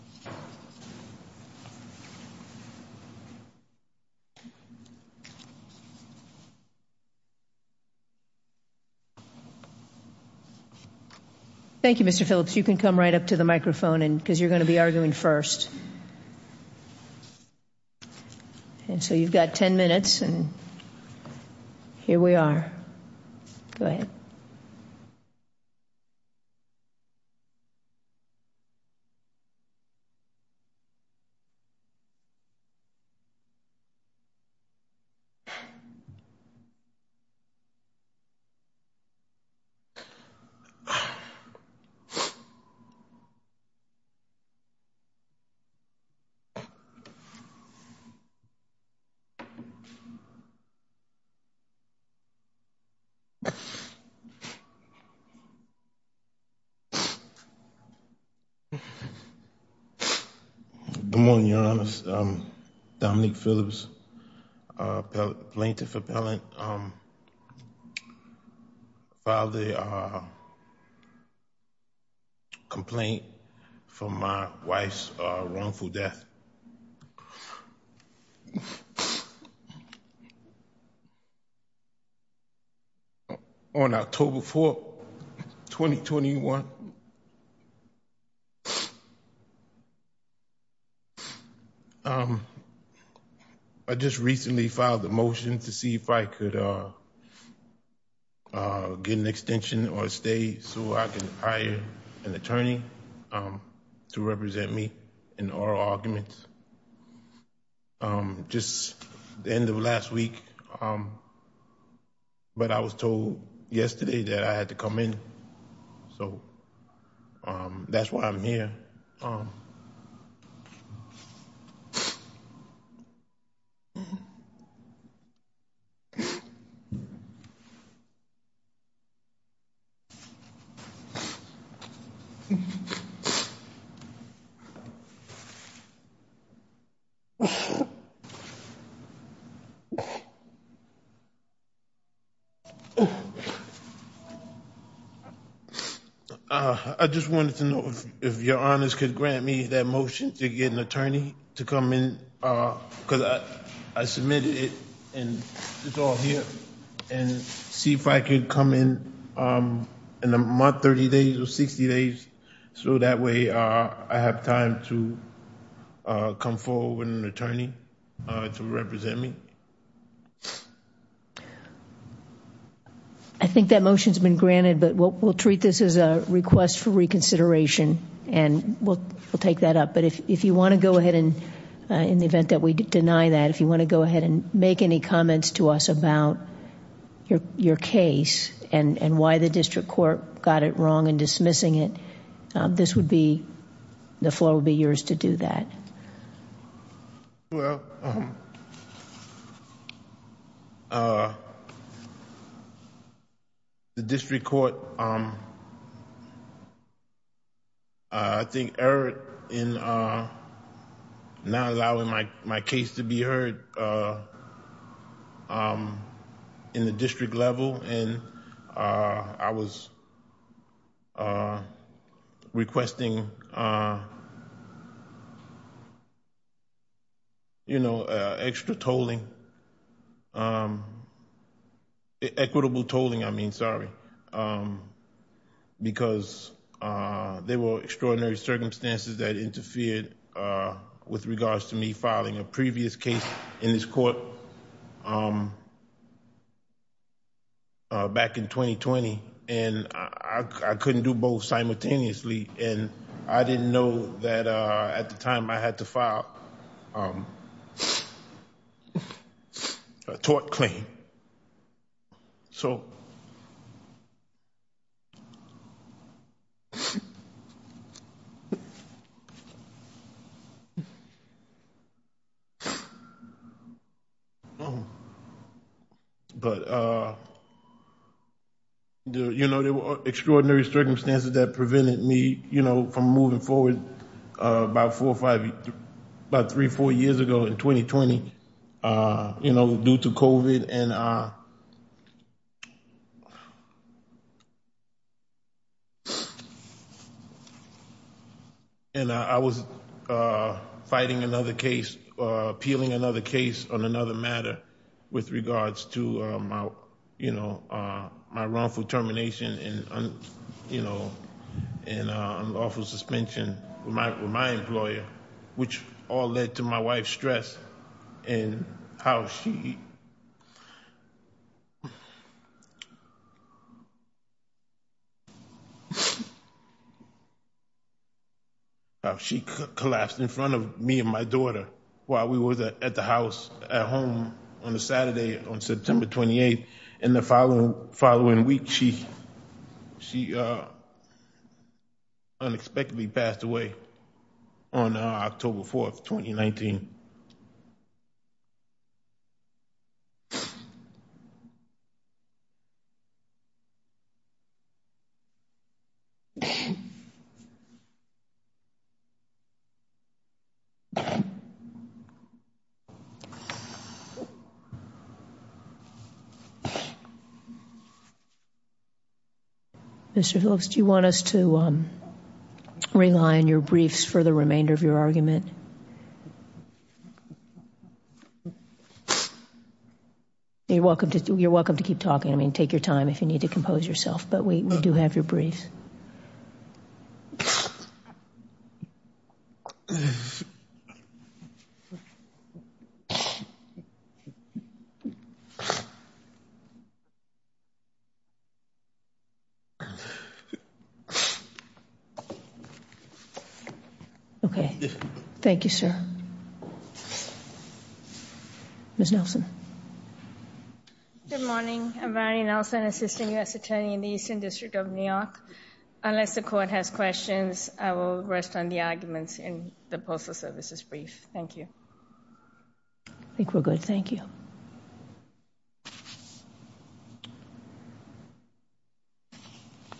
Thank you, Mr. Phillips. You can come right up to the microphone because you're going to be arguing first. And so you've got ten minutes and here we are. Go ahead. Good morning, Your Honors. Dominique Phillips, Plaintiff Appellant. I filed a complaint for my wife's wrongful death on October 4, 2021. I just recently filed a motion to see if I could get an extension or stay so I can hire an attorney to represent me in oral arguments just at the end of last week. But I was told yesterday that I had to come in. So that's why I'm here. I just wanted to know if Your Honors could grant me that motion to get an attorney to come in because I submitted it and it's all here. And see if I could come in in a month, 30 days or 60 days. So that way I have time to come forward with an attorney to represent me. I think that motion has been granted, but we'll treat this as a request for reconsideration and we'll take that up. But if you want to go ahead in the event that we deny that, if you want to go ahead and make any comments to us about your case and why the district court got it wrong in dismissing it, the floor will be yours to do that. Well, the district court, I think, erred in not allowing my case to be heard in the district level. And I was requesting, you know, extra tolling. Equitable tolling, I mean, sorry. Because there were extraordinary circumstances that interfered with regards to me filing a previous case in this court back in 2020. And I couldn't do both simultaneously. And I didn't know that at the time I had to file a tort claim. So. But, you know, there were extraordinary circumstances that prevented me, you know, from moving forward about four or five, about three, four years ago in 2020, you know, due to COVID. And I was fighting another case, appealing another case on another matter with regards to my, you know, my wrongful termination and, you know, and unlawful suspension with my employer, which all led to my wife's stress. And how she collapsed in front of me and my daughter while we were at the house at home on a Saturday on September 28. And the following following week, she, she unexpectedly passed away on October 4th, 2019. Mr. Phillips, do you want us to rely on your briefs for the remainder of your argument? You're welcome to keep talking. I mean, take your time if you need to compose yourself, but we do have your briefs. Okay. Thank you, sir. Ms. Nelson. Good morning. I'm Valerie Nelson, Assistant U.S. Attorney in the Eastern District of New York. Unless the court has questions, I will rest on the arguments in the Postal Service's brief. Thank you. I think we're good. Thank you.